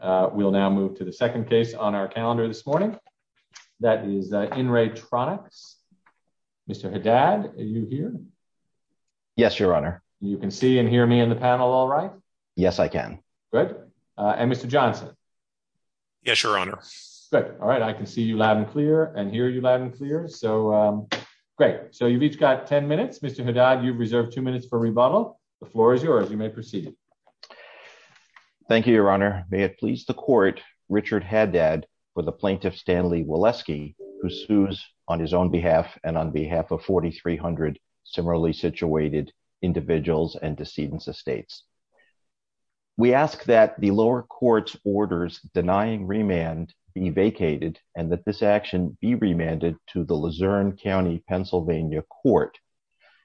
uh we'll now move to the second case on our calendar this morning that is in Ray Tronix Mr. Haddad are you here yes your honor you can see and hear me in the panel all right yes I can good uh and Mr. Johnson yes your honor good all right I can see you loud and clear and hear you loud and clear so um great so you've each got 10 minutes Mr. Haddad you've reserved two minutes for rebuttal the floor is yours you may proceed thank you your honor may it please the court Richard Haddad for the plaintiff Stanley Woleski who sues on his own behalf and on behalf of 4,300 similarly situated individuals and decedents of states we ask that the lower court's orders denying remand be vacated and that this action be remanded to the Luzerne County Pennsylvania court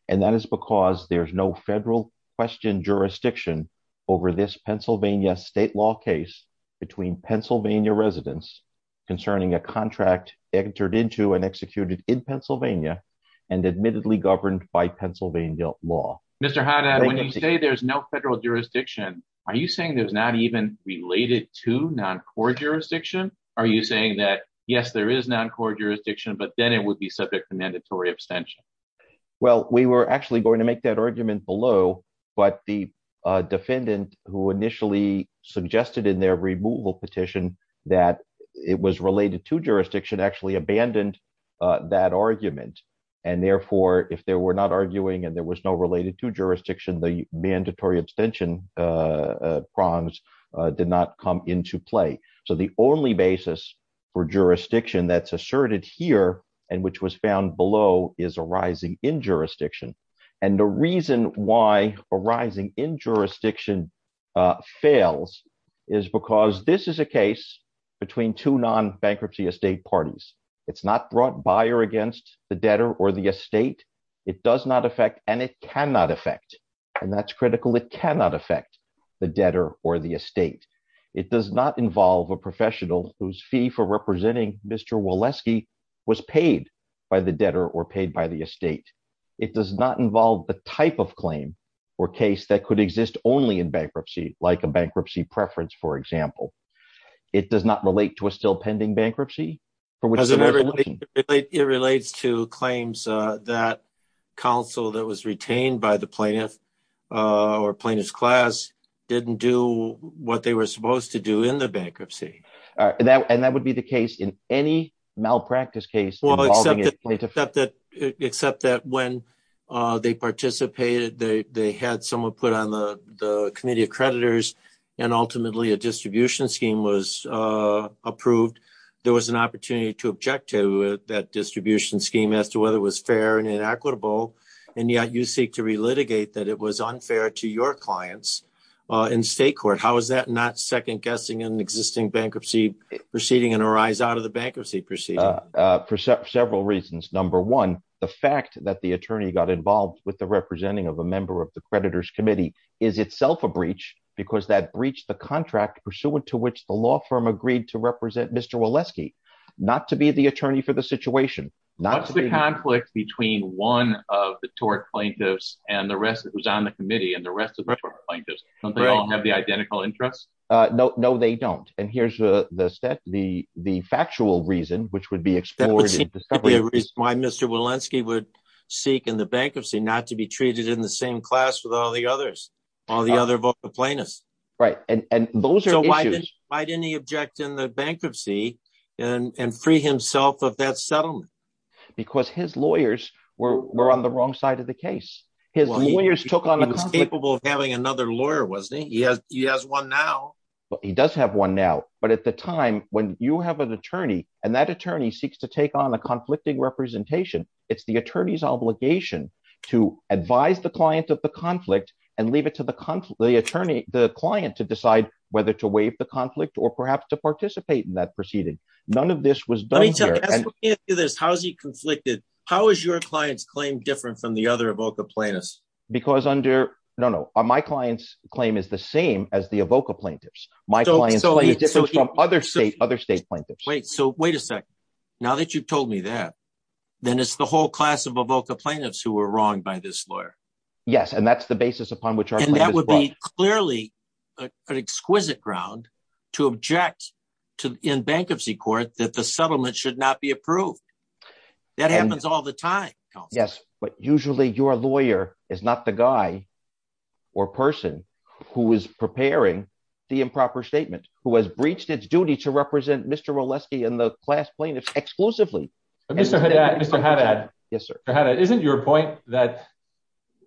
and that is because there's no federal question jurisdiction over this Pennsylvania state law case between Pennsylvania residents concerning a contract entered into and executed in Pennsylvania and admittedly governed by Pennsylvania law Mr. Haddad when you say there's no federal jurisdiction are you saying there's not even related to non-court jurisdiction are you that yes there is non-court jurisdiction but then it would be subject to mandatory abstention well we were actually going to make that argument below but the defendant who initially suggested in their removal petition that it was related to jurisdiction actually abandoned that argument and therefore if they were not arguing and there was no related to jurisdiction the for jurisdiction that's asserted here and which was found below is arising in jurisdiction and the reason why arising in jurisdiction fails is because this is a case between two non-bankruptcy estate parties it's not brought by or against the debtor or the estate it does not affect and it cannot affect and that's critical it cannot affect the debtor or the estate it does not involve a Mr. Woleski was paid by the debtor or paid by the estate it does not involve the type of claim or case that could exist only in bankruptcy like a bankruptcy preference for example it does not relate to a still pending bankruptcy it relates to claims that council that was retained by the plaintiff or plaintiff's class didn't do what they were supposed to do in the case in any malpractice case except that except that when uh they participated they they had someone put on the the committee of creditors and ultimately a distribution scheme was uh approved there was an opportunity to object to that distribution scheme as to whether it was fair and inequitable and yet you seek to relitigate that it was unfair to your clients uh in state out of the bankruptcy proceeding uh for several reasons number one the fact that the attorney got involved with the representing of a member of the creditors committee is itself a breach because that breached the contract pursuant to which the law firm agreed to represent Mr. Woleski not to be the attorney for the situation not the conflict between one of the tort plaintiffs and the rest that was on the committee and the rest of the plaintiffs don't they all have the identical interests uh no no they don't and here's the the the factual reason which would be explored why Mr. Walensky would seek in the bankruptcy not to be treated in the same class with all the others all the other plaintiffs right and and those are why didn't he object in the bankruptcy and and free himself of that settlement because his lawyers were were on the wrong side of the but he does have one now but at the time when you have an attorney and that attorney seeks to take on a conflicting representation it's the attorney's obligation to advise the client of the conflict and leave it to the conflict the attorney the client to decide whether to waive the conflict or perhaps to participate in that proceeding none of this was done how is he conflicted how is your client's claim different from the other evoke the plaintiffs because under no no my client's claim is the same as the evoke of plaintiffs my client so from other state other state plaintiffs wait so wait a second now that you've told me that then it's the whole class of evoke the plaintiffs who were wrong by this lawyer yes and that's the basis upon which and that would be clearly an exquisite ground to object to in bankruptcy court that the settlement should not be approved that happens all the time yes but usually your lawyer is not the guy or person who is preparing the improper statement who has breached its duty to represent mr. oleski and the class plaintiffs exclusively mr hadad yes sir isn't your point that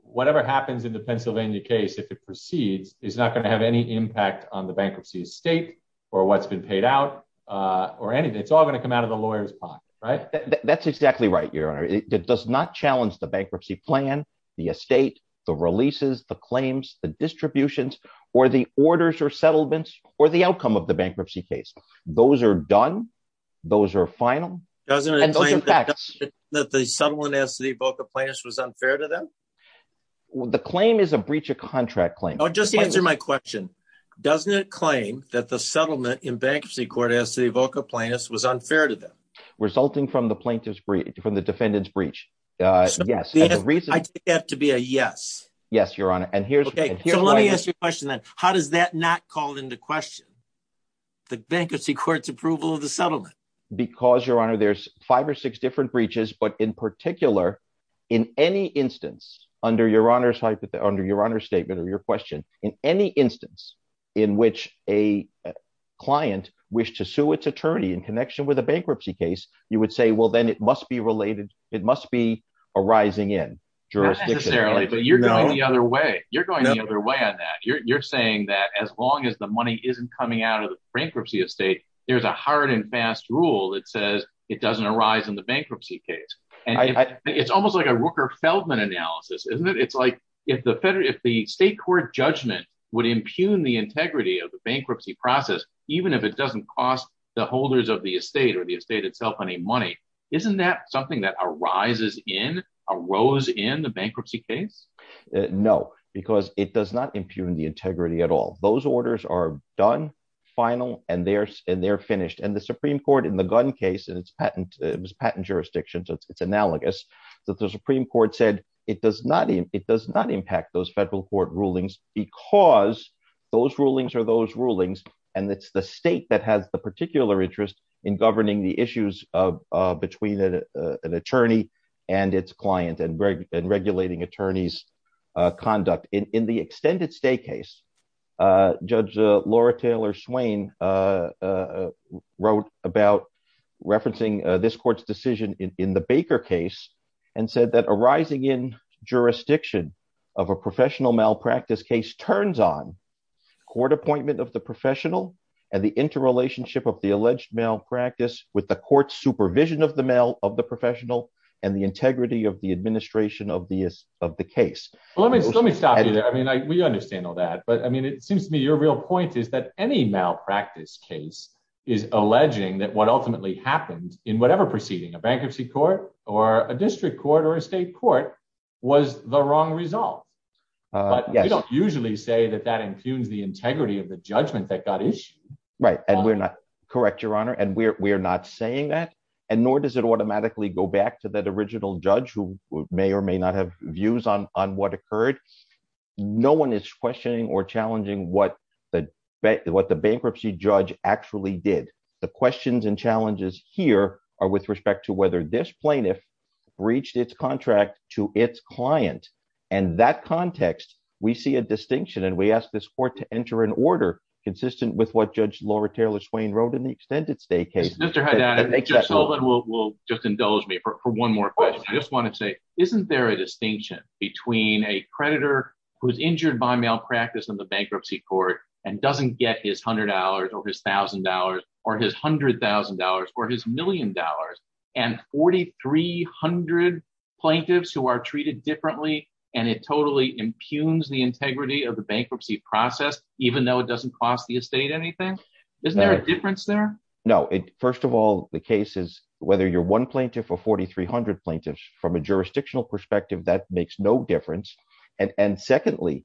whatever happens in the pennsylvania case if it proceeds is not going to have any impact on the bankruptcy estate or what's been paid out uh or anything it's all going to come out of the lawyer's pocket right that's exactly right your honor it does not challenge the bankruptcy plan the estate the leases the claims the distributions or the orders or settlements or the outcome of the bankruptcy case those are done those are final doesn't it that the settlement as the evoke of plaintiffs was unfair to them the claim is a breach of contract claim oh just answer my question doesn't it claim that the settlement in bankruptcy court as the evoke of plaintiffs was unfair to them resulting from the plaintiff's breach from the defendant's breach uh yes the reason i think to be a yes yes your honor and here's okay so let me ask you a question then how does that not call into question the bankruptcy court's approval of the settlement because your honor there's five or six different breaches but in particular in any instance under your honor's hypothetical under your honor's statement or your question in any instance in which a client wished to sue its attorney in connection with a bankruptcy case you would say well then it must be related it must be arising in jurisdiction necessarily but you're going the other way you're going the other way on that you're saying that as long as the money isn't coming out of the bankruptcy estate there's a hard and fast rule that says it doesn't arise in the bankruptcy case and it's almost like a rooker feldman analysis isn't it it's like if the federal if the state court judgment would impugn the integrity of the bankruptcy process even if it doesn't cost the holders of the estate or the rises in arose in the bankruptcy case no because it does not impugn the integrity at all those orders are done final and they're and they're finished and the supreme court in the gun case and its patent it was patent jurisdictions it's analogous that the supreme court said it does not it does not impact those federal court rulings because those rulings are those rulings and it's the state that has the particular interest in governing the issues of between an attorney and its client and regulating attorneys conduct in the extended stay case judge laura taylor swain wrote about referencing this court's decision in the baker case and said that arising in jurisdiction of a professional malpractice case turns on court appointment of the professional the interrelationship of the alleged malpractice with the court's supervision of the male of the professional and the integrity of the administration of the of the case well let me let me stop you there i mean i we understand all that but i mean it seems to me your real point is that any malpractice case is alleging that what ultimately happened in whatever proceeding a bankruptcy court or a district court or a state court was the wrong result but you don't usually say that that impugns the integrity of the judgment that got issued right and we're not correct your honor and we're we're not saying that and nor does it automatically go back to that original judge who may or may not have views on on what occurred no one is questioning or challenging what the what the bankruptcy judge actually did the questions and challenges here are with respect to whether this plaintiff breached its contract to its client and that context we see a distinction and we ask this court to enter an order consistent with what judge laura taylor swain wrote in the extended state case mr haddad will just indulge me for one more question i just want to say isn't there a distinction between a creditor who's injured by malpractice in the bankruptcy court and doesn't get his hundred dollars or his thousand dollars or his hundred thousand dollars or his million dollars and 4,300 plaintiffs who are treated differently and it totally impugns the integrity of the bankruptcy process even though it doesn't cost the estate anything isn't there a difference there no it first of all the case is whether you're one plaintiff or 4,300 plaintiffs from a jurisdictional perspective that makes no difference and and secondly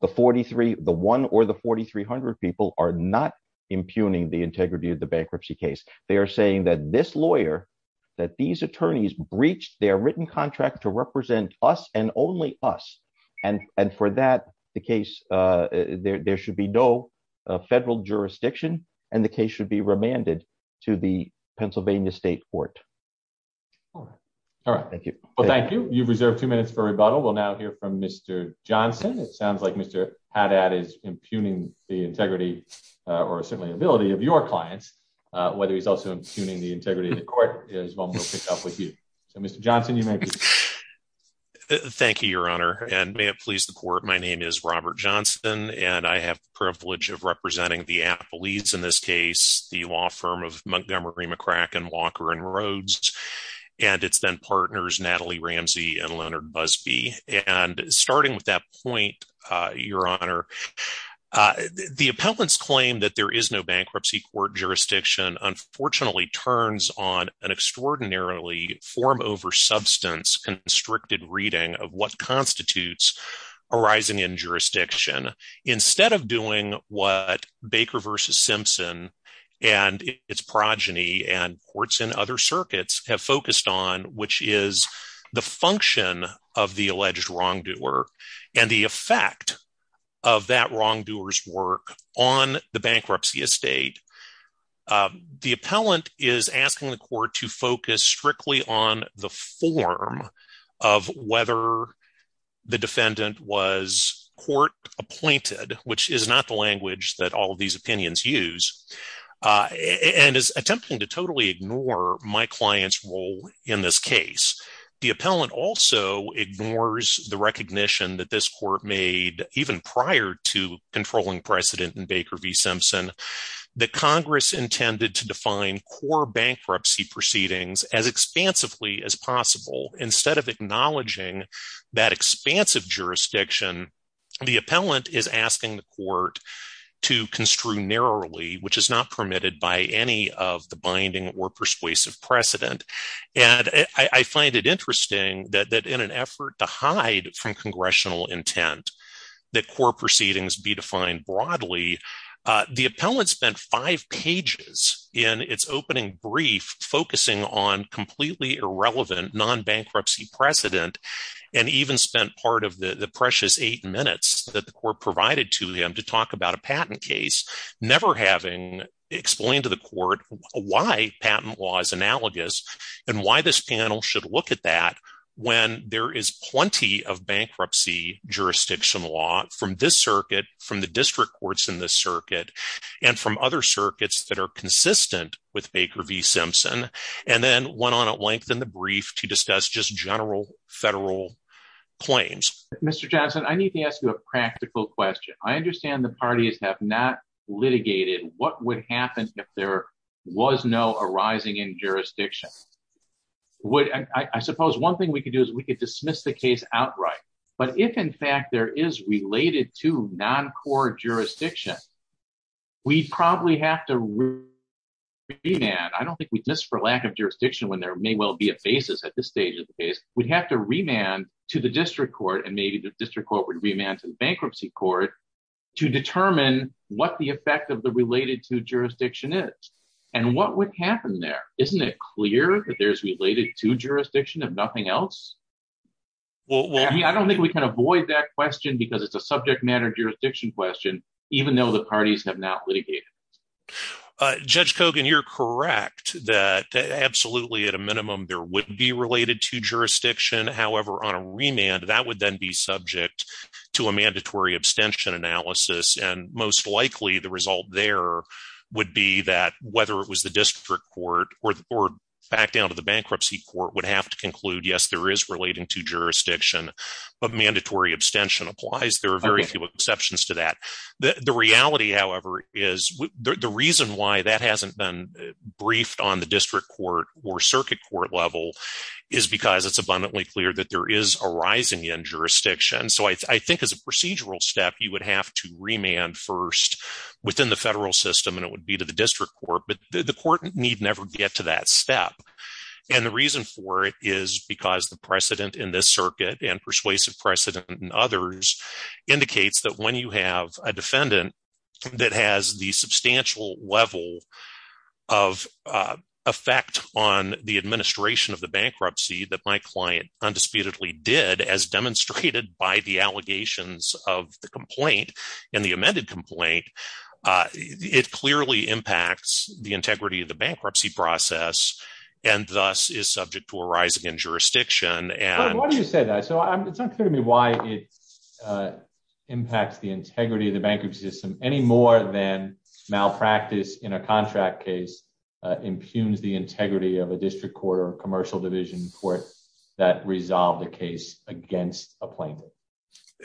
the 43 the one or the 4,300 people are not impugning the integrity of the bankruptcy case they are saying that this lawyer that these attorneys breached their written contract to represent us and only us and and for that the case uh there there should be no uh federal jurisdiction and the case should be remanded to the pennsylvania state court all right thank you well thank you you've reserved two minutes for rebuttal we'll now hear from mr johnson it sounds like mr haddad is impugning the integrity or certainly ability of your clients uh whether he's also impugning the integrity of the court is one we'll pick up with you so mr johnson you may be thank you your honor and may it please the court my name is robert johnson and i have the privilege of representing the athletes in this case the law firm of montgomery mccracken walker and roads and its then partners natalie ramsey and leonard busby and starting with that point uh your honor uh the appellants claim that there is no bankruptcy court jurisdiction unfortunately turns on an extraordinarily form over substance constricted reading of what constitutes arising in jurisdiction instead of doing what baker versus of the alleged wrongdoer and the effect of that wrongdoer's work on the bankruptcy estate the appellant is asking the court to focus strictly on the form of whether the defendant was court appointed which is not the language that all of these opinions use uh and is attempting to totally ignore my client's role in this case the appellant also ignores the recognition that this court made even prior to controlling precedent in baker v simpson that congress intended to define core bankruptcy proceedings as expansively as possible instead of acknowledging that expansive jurisdiction the appellant is asking the court to construe narrowly which is not permitted by any of the binding or persuasive precedent and i i find it interesting that that in an effort to hide from congressional intent that core proceedings be defined broadly the appellant spent five pages in its opening brief focusing on completely irrelevant non-bankruptcy precedent and even spent part of the the precious eight minutes that the court provided to him to explain to the court why patent law is analogous and why this panel should look at that when there is plenty of bankruptcy jurisdiction law from this circuit from the district courts in this circuit and from other circuits that are consistent with baker v simpson and then went on at length in the brief to discuss just general federal claims mr johnson i need to ask you a practical question i understand the parties have not litigated what would happen if there was no arising in jurisdiction would i suppose one thing we could do is we could dismiss the case outright but if in fact there is related to non-core jurisdiction we'd probably have to be mad i don't think we just for lack of jurisdiction when there may well be a basis at this stage of the case we'd have to to the district court and maybe the district court would remand to the bankruptcy court to determine what the effect of the related to jurisdiction is and what would happen there isn't it clear that there's related to jurisdiction if nothing else well i don't think we can avoid that question because it's a subject matter jurisdiction question even though the parties have not litigated uh judge cogan you're correct that absolutely at a minimum there would be related to jurisdiction however on a remand that would then be subject to a mandatory abstention analysis and most likely the result there would be that whether it was the district court or back down to the bankruptcy court would have to conclude yes there is relating to jurisdiction but mandatory abstention applies there are very few exceptions to that the reality however is the reason why that it's abundantly clear that there is a rising in jurisdiction so i think as a procedural step you would have to remand first within the federal system and it would be to the district court but the court need never get to that step and the reason for it is because the precedent in this circuit and persuasive precedent and others indicates that when you have a defendant that effect on the administration of the bankruptcy that my client undisputedly did as demonstrated by the allegations of the complaint and the amended complaint it clearly impacts the integrity of the bankruptcy process and thus is subject to a rising in jurisdiction and what do you say that so it's unclear to me why it impacts the integrity of the bankruptcy system any more than malpractice in a contract case impugns the integrity of a district court or commercial division court that resolved the case against a plaintiff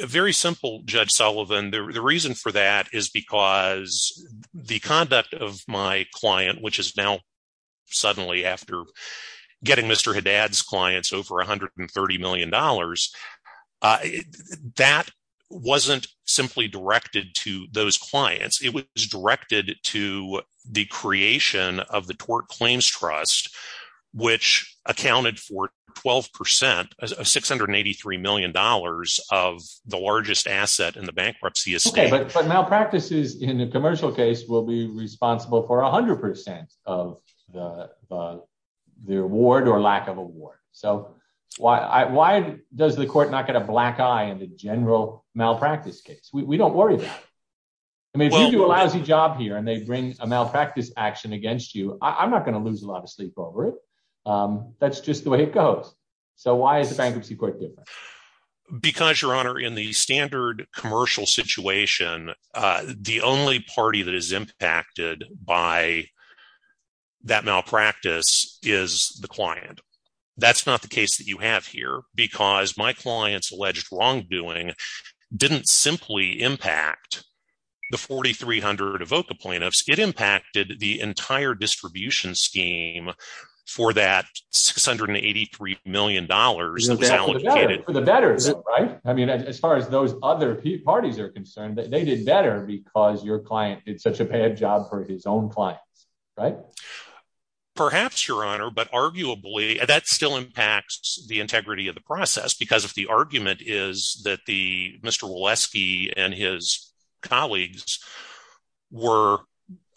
very simple judge sullivan the reason for that is because the conduct of my client which is now suddenly after getting mr haddad's clients over 130 million dollars that wasn't simply directed to those clients it was directed to the creation of the tort claims trust which accounted for 12 percent of 683 million dollars of the largest asset in the bankruptcy estate but malpractice is in the commercial case will be responsible for a hundred percent of the the reward or lack of award so why why does the court not get a black eye in the general malpractice case we don't worry about it i mean if you do a lousy job here and they bring a malpractice action against you i'm not going to lose a lot of sleep over it um that's just the way it goes so why is the bankruptcy court different because your honor in the standard commercial situation uh the only party that is impacted by that malpractice is the client that's not the case that you have here because my clients alleged wrongdoing didn't simply impact the 4300 evoca plaintiffs it impacted the entire distribution scheme for that 683 million dollars for the better right i mean as far as those other parties are concerned that they did better because your client did such a bad job for his own clients right perhaps your honor but arguably that still impacts the integrity of the process because if the argument is that the mr walesky and his colleagues were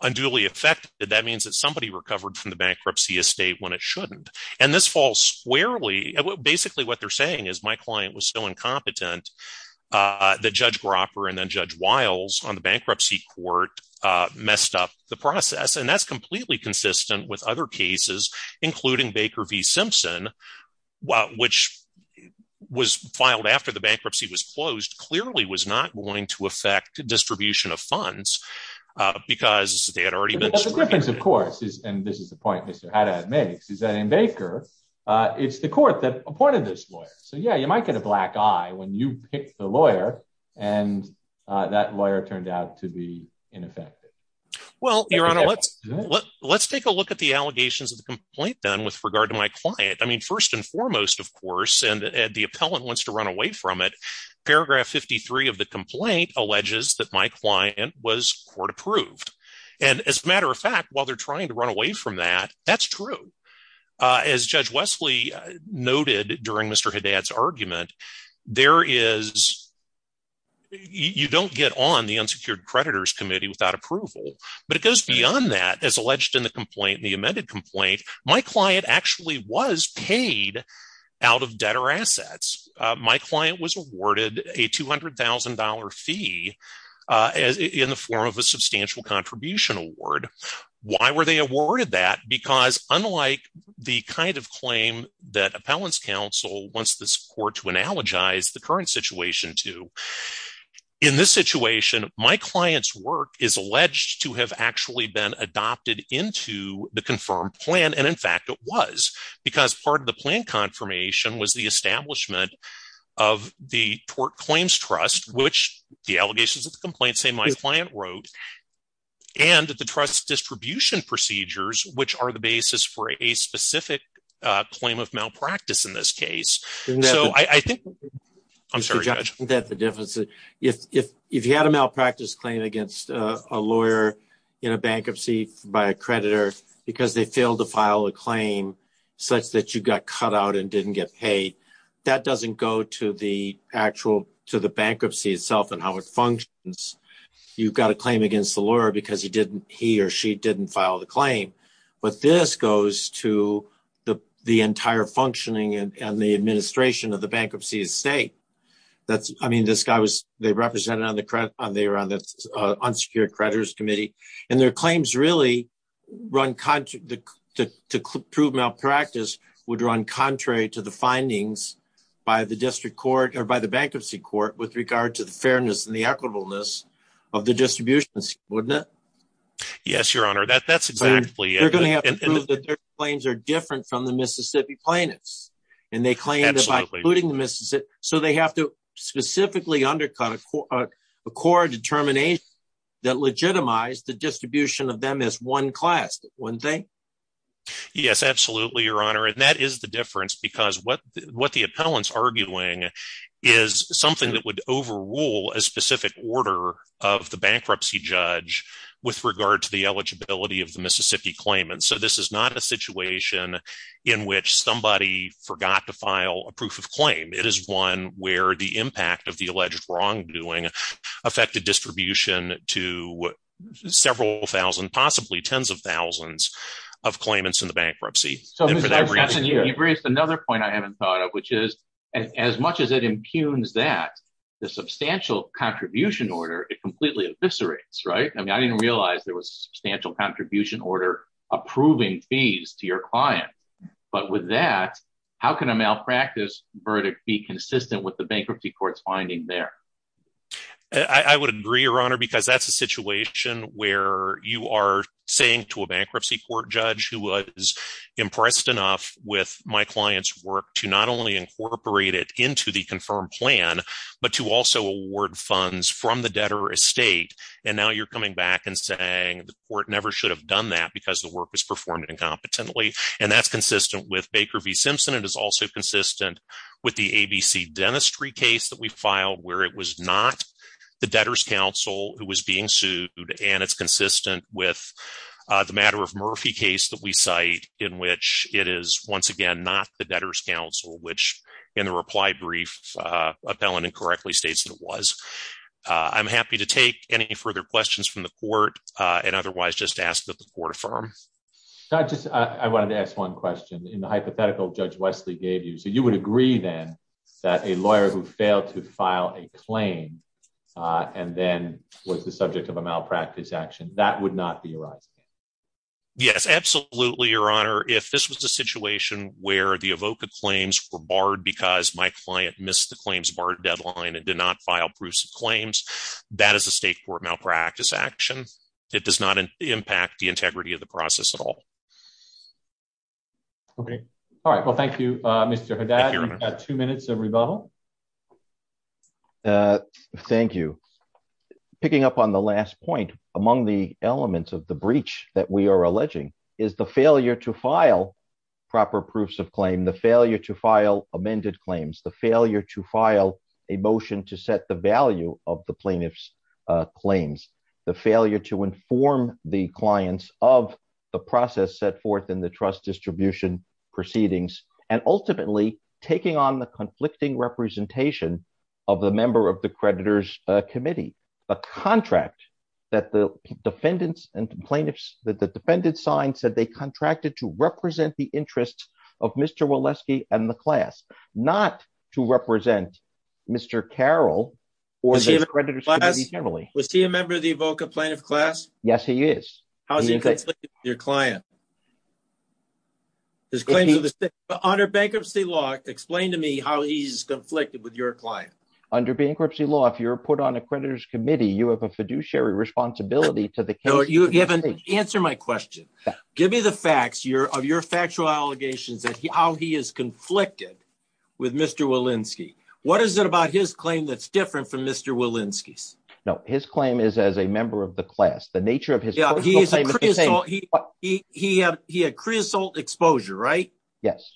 unduly affected that means somebody recovered from the bankruptcy estate when it shouldn't and this falls squarely basically what they're saying is my client was so incompetent uh that judge gropper and then judge wiles on the bankruptcy court uh messed up the process and that's completely consistent with other cases including baker v simpson which was filed after the bankruptcy was closed clearly was not going to affect distribution of funds because they had already been the difference of course is and this is the point mr haddad makes is that in baker uh it's the court that appointed this lawyer so yeah you might get a black eye when you pick the lawyer and uh that lawyer turned out to be ineffective well your honor let's let's take a look at the allegations of the complaint then with regard to my client i mean first and foremost of course and the appellant wants to run away from it paragraph 53 of the complaint alleges that my client was court approved and as a matter of fact while they're trying to run away from that that's true uh as judge wesley noted during mr haddad's argument there is you don't get on the unsecured creditors committee without approval but it goes beyond that as alleged in the complaint the amended complaint my client actually was paid out of debt or assets my client was awarded a two hundred thousand dollar fee uh in the form of a substantial contribution award why were they awarded that because unlike the kind of claim that appellants council wants this court to analogize the current situation to in this situation my client's work is alleged to have actually been adopted into the confirmed plan and in fact it was because part of the plan confirmation was the establishment of the tort claims trust which the allegations of the complaint say my client wrote and the trust distribution procedures which are the basis for a specific uh claim of malpractice in this case so i i think i'm sorry judge that the difference if if if you had a malpractice claim a lawyer in a bankruptcy by a creditor because they failed to file a claim such that you got cut out and didn't get paid that doesn't go to the actual to the bankruptcy itself and how it functions you've got a claim against the lawyer because he didn't he or she didn't file the claim but this goes to the the entire functioning and the administration of the bankruptcy estate that's i mean this guy was they represented on the credit on they were on the unsecured creditors committee and their claims really run contrary to prove malpractice would run contrary to the findings by the district court or by the bankruptcy court with regard to the fairness and the equitableness of the distributions wouldn't it yes your honor that that's exactly they're going to have to prove that their claims are different from the mississippi plaintiffs and they claim that by including the mississippi so they have to specifically undercut a core determination that legitimize the distribution of them as one class one thing yes absolutely your honor and that is the difference because what what the appellants arguing is something that would overrule a specific order of the bankruptcy judge with regard to the eligibility of the mississippi claimant so this is not a situation in which somebody forgot to file a proof of claim it is one where the impact of the alleged wrongdoing affected distribution to several thousand possibly tens of thousands of claimants in the bankruptcy so you've raised another point i haven't thought of which is as much as it impugns that the substantial contribution order it completely eviscerates right i mean i didn't realize there substantial contribution order approving fees to your client but with that how can a malpractice verdict be consistent with the bankruptcy court's finding there i i would agree your honor because that's a situation where you are saying to a bankruptcy court judge who was impressed enough with my client's work to not only incorporate it into the confirmed plan but to also award funds from the debtor estate and now you're coming back and saying the court never should have done that because the work was performed incompetently and that's consistent with baker v simpson it is also consistent with the abc dentistry case that we filed where it was not the debtor's counsel who was being sued and it's consistent with the matter of murphy case that we cite in which it is once again not the debtor's counsel which in the reply brief uh appellant incorrectly states uh i'm happy to take any further questions from the court uh and otherwise just ask that the court affirm not just i wanted to ask one question in the hypothetical judge wesley gave you so you would agree then that a lawyer who failed to file a claim uh and then was the subject of a malpractice action that would not be your eyes yes absolutely your honor if this was a situation where the evoca claims were barred because my client missed the claims barred deadline and did not file proofs of claims that is a state court malpractice action it does not impact the integrity of the process at all okay all right well thank you uh mr haddad two minutes of rebuttal uh thank you picking up on the last point among the elements of the breach that we are alleging is the failure to file proper proofs of claim the failure to file amended claims the failure to file a motion to set the value of the plaintiff's uh claims the failure to inform the clients of the process set forth in the trust distribution proceedings and ultimately taking on the conflicting representation of the member of the creditor's uh committee a contract that the defendants and plaintiffs that the defendant signed said they contracted to represent the interests of mr walesky and the class not to represent mr carroll was he a member of the evoke of plaintiff class yes he is how's your client his claims under bankruptcy law explain to me how he's conflicted with your client under bankruptcy law if you're put on a creditor's committee you have a fiduciary responsibility to the case you haven't answered my question give me the facts your of your factual allegations that how he is conflicted with mr walensky what is it about his claim that's different from mr walensky's no his claim is as a member of the class the nature of his he had he had creosote exposure right yes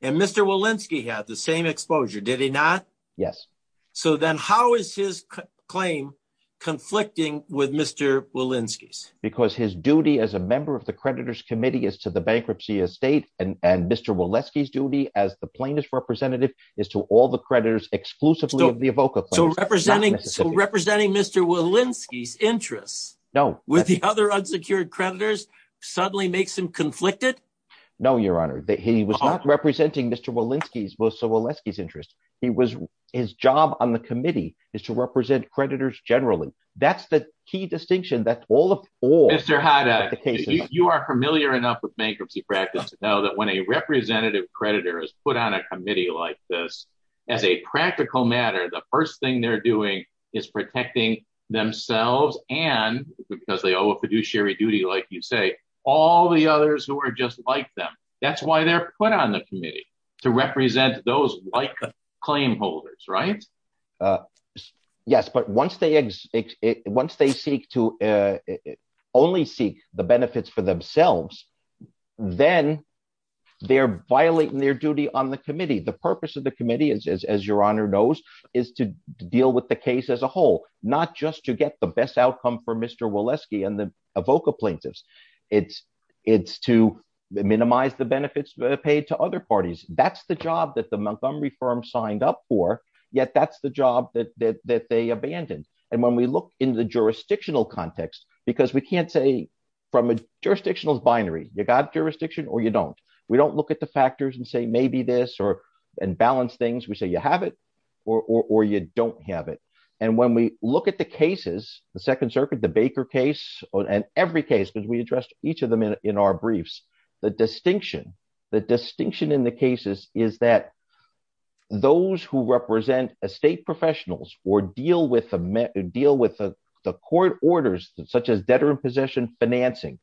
and mr walensky had the same exposure did he not yes so then how is his claim conflicting with mr walensky's because his duty as a member of the creditor's committee is to the bankruptcy estate and and mr walesky's duty as the plaintiff's representative is to all the creditors exclusively of the evoker so representing so representing mr walensky's interests no with the other unsecured creditors suddenly makes him conflicted no your mr walensky's was so walensky's interest he was his job on the committee is to represent creditors generally that's the key distinction that all of all mr hada you are familiar enough with bankruptcy practice to know that when a representative creditor is put on a committee like this as a practical matter the first thing they're doing is protecting themselves and because they owe a fiduciary duty like you say all the others who are just like them that's why they're put on the committee to represent those like the claim holders right uh yes but once they once they seek to uh only seek the benefits for themselves then they're violating their duty on the committee the purpose of the committee is as your honor knows is to deal with the case as a whole not just to get the best outcome for mr walensky and the evoker plaintiffs it's it's to minimize the benefits paid to other parties that's the job that the montgomery firm signed up for yet that's the job that that that they abandoned and when we look in the jurisdictional context because we can't say from a jurisdictional binary you got jurisdiction or you don't we don't look at the factors and say maybe this or and balance things we say you have it or or you don't have it and when we look at the cases the second circuit the baker case and every case because we each of them in our briefs the distinction the distinction in the cases is that those who represent estate professionals or deal with the deal with the court orders such as debtor in possession financing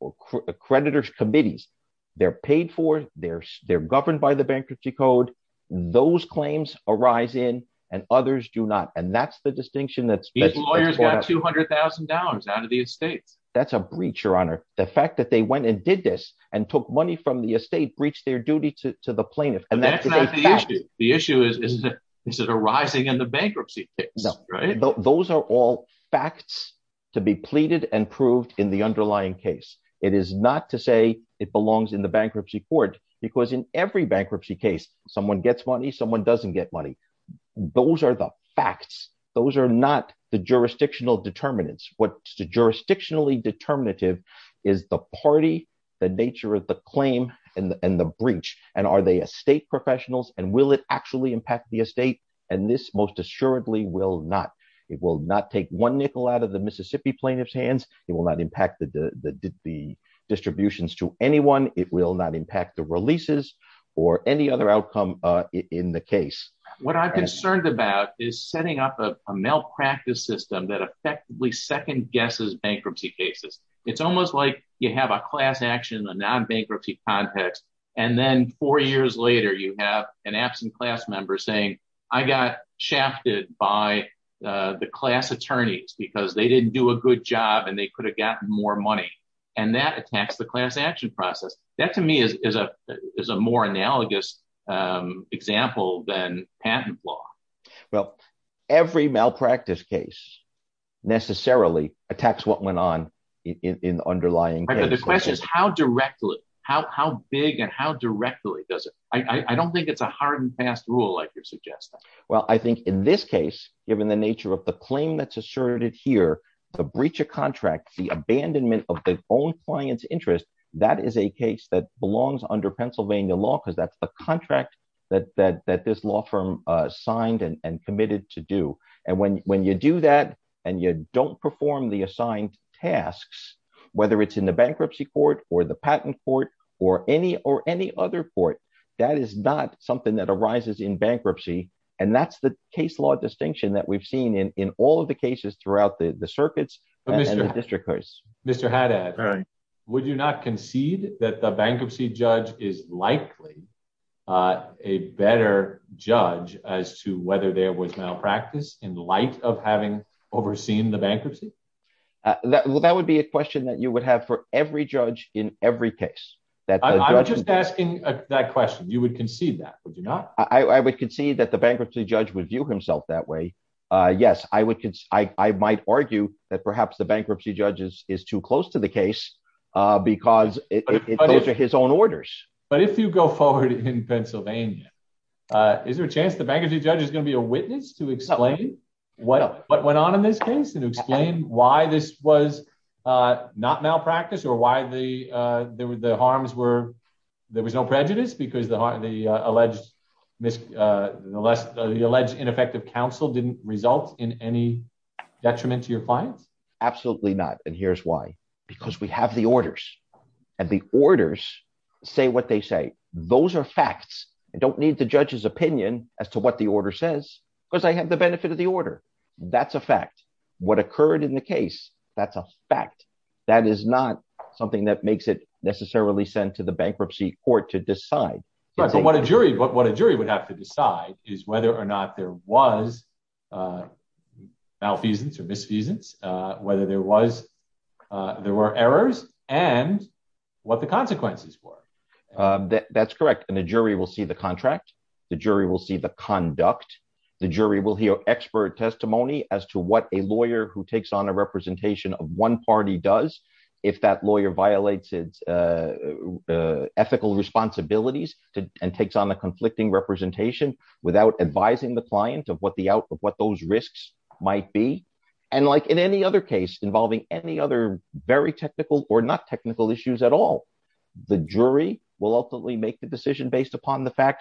or creditors committees they're paid for they're they're governed by the bankruptcy code those claims arise in and others do not and that's the distinction that's two hundred thousand dollars out of the estates that's a breach your honor the fact that they went and did this and took money from the estate breached their duty to the plaintiff and that's not the issue the issue is is it is it arising in the bankruptcy case no right those are all facts to be pleaded and proved in the underlying case it is not to say it belongs in the bankruptcy court because in every bankruptcy case someone gets money someone doesn't get money those are the facts those are not the jurisdictional determinants what's the jurisdictionally determinative is the party the nature of the claim and the breach and are they estate professionals and will it actually impact the estate and this most assuredly will not it will not take one nickel out of the Mississippi plaintiff's hands it will not impact the the distributions to anyone it will not impact the releases or any other outcome uh in the case what i'm concerned about is setting up a malpractice system that effectively second guesses bankruptcy cases it's almost like you have a class action a non-bankruptcy context and then four years later you have an absent class member saying i got shafted by uh the class attorneys because they didn't do a good job and they could have gotten more money and that attacks the class action process that to me is is a is a more analogous um example than patent law well every malpractice case necessarily attacks what went on in the underlying the question is how directly how how big and how directly does it i i don't think it's a hard and fast rule like you're suggesting well i think in this case given the nature of the claim that's asserted here the breach of contract the abandonment of the own client's interest that is a case that belongs under pennsylvania law because that's the contract that that that this law firm uh signed and committed to do and when when you do that and you don't perform the assigned tasks whether it's in the bankruptcy court or the patent court or any or any other court that is not something that arises in bankruptcy and that's the case law distinction that we've seen in in all of the cases throughout the the circuits and the district courts mr hadad right would you not concede that the bankruptcy judge is likely uh a better judge as to whether there was malpractice in light of having overseen the bankruptcy uh well that would be a question that you would have for every judge in every case that i'm just asking that question you would concede that would you not i i would concede that the bankruptcy judge would view himself that way uh yes i would i i might argue that perhaps the bankruptcy judge is is too close to the case uh because it goes to his own orders but if you go forward in pennsylvania uh is there a chance the bankruptcy judge is going to be a witness to explain what what went on in this case and explain why this was uh not malpractice or why the uh there were the harms were there was no prejudice because the the alleged mis uh the less the alleged ineffective counsel didn't result in any detriment to your clients absolutely not and here's why because we have the orders and the orders say what they say those are facts i don't need the judge's opinion as to what the order says because i have the benefit of the order that's a fact what occurred in the case that's a fact that is not something that makes it necessarily sent to the bankruptcy court to decide right but what a jury but what a jury would have to decide is whether or not there was uh malfeasance or misfeasance uh whether there was uh there were errors and what the consequences were uh that's correct and the jury will see the contract the jury will see the conduct the jury will hear expert testimony as to what a lawyer who takes on a representation of one party does if that lawyer violates its uh ethical responsibilities and takes on a conflicting representation without advising the client of what the out of what those risks might be and like in any other case involving any other very technical or not technical issues at all the jury will ultimately make the decision based upon the drive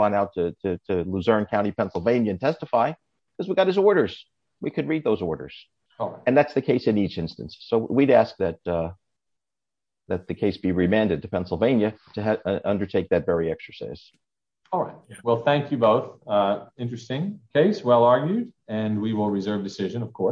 on out to to luzerne county pennsylvania and testify because we got his orders we could read those orders all right and that's the case in each instance so we'd ask that uh that the case be remanded to pennsylvania to undertake that very exercise all right well thank you both uh interesting case well argued and we will reserve decision of course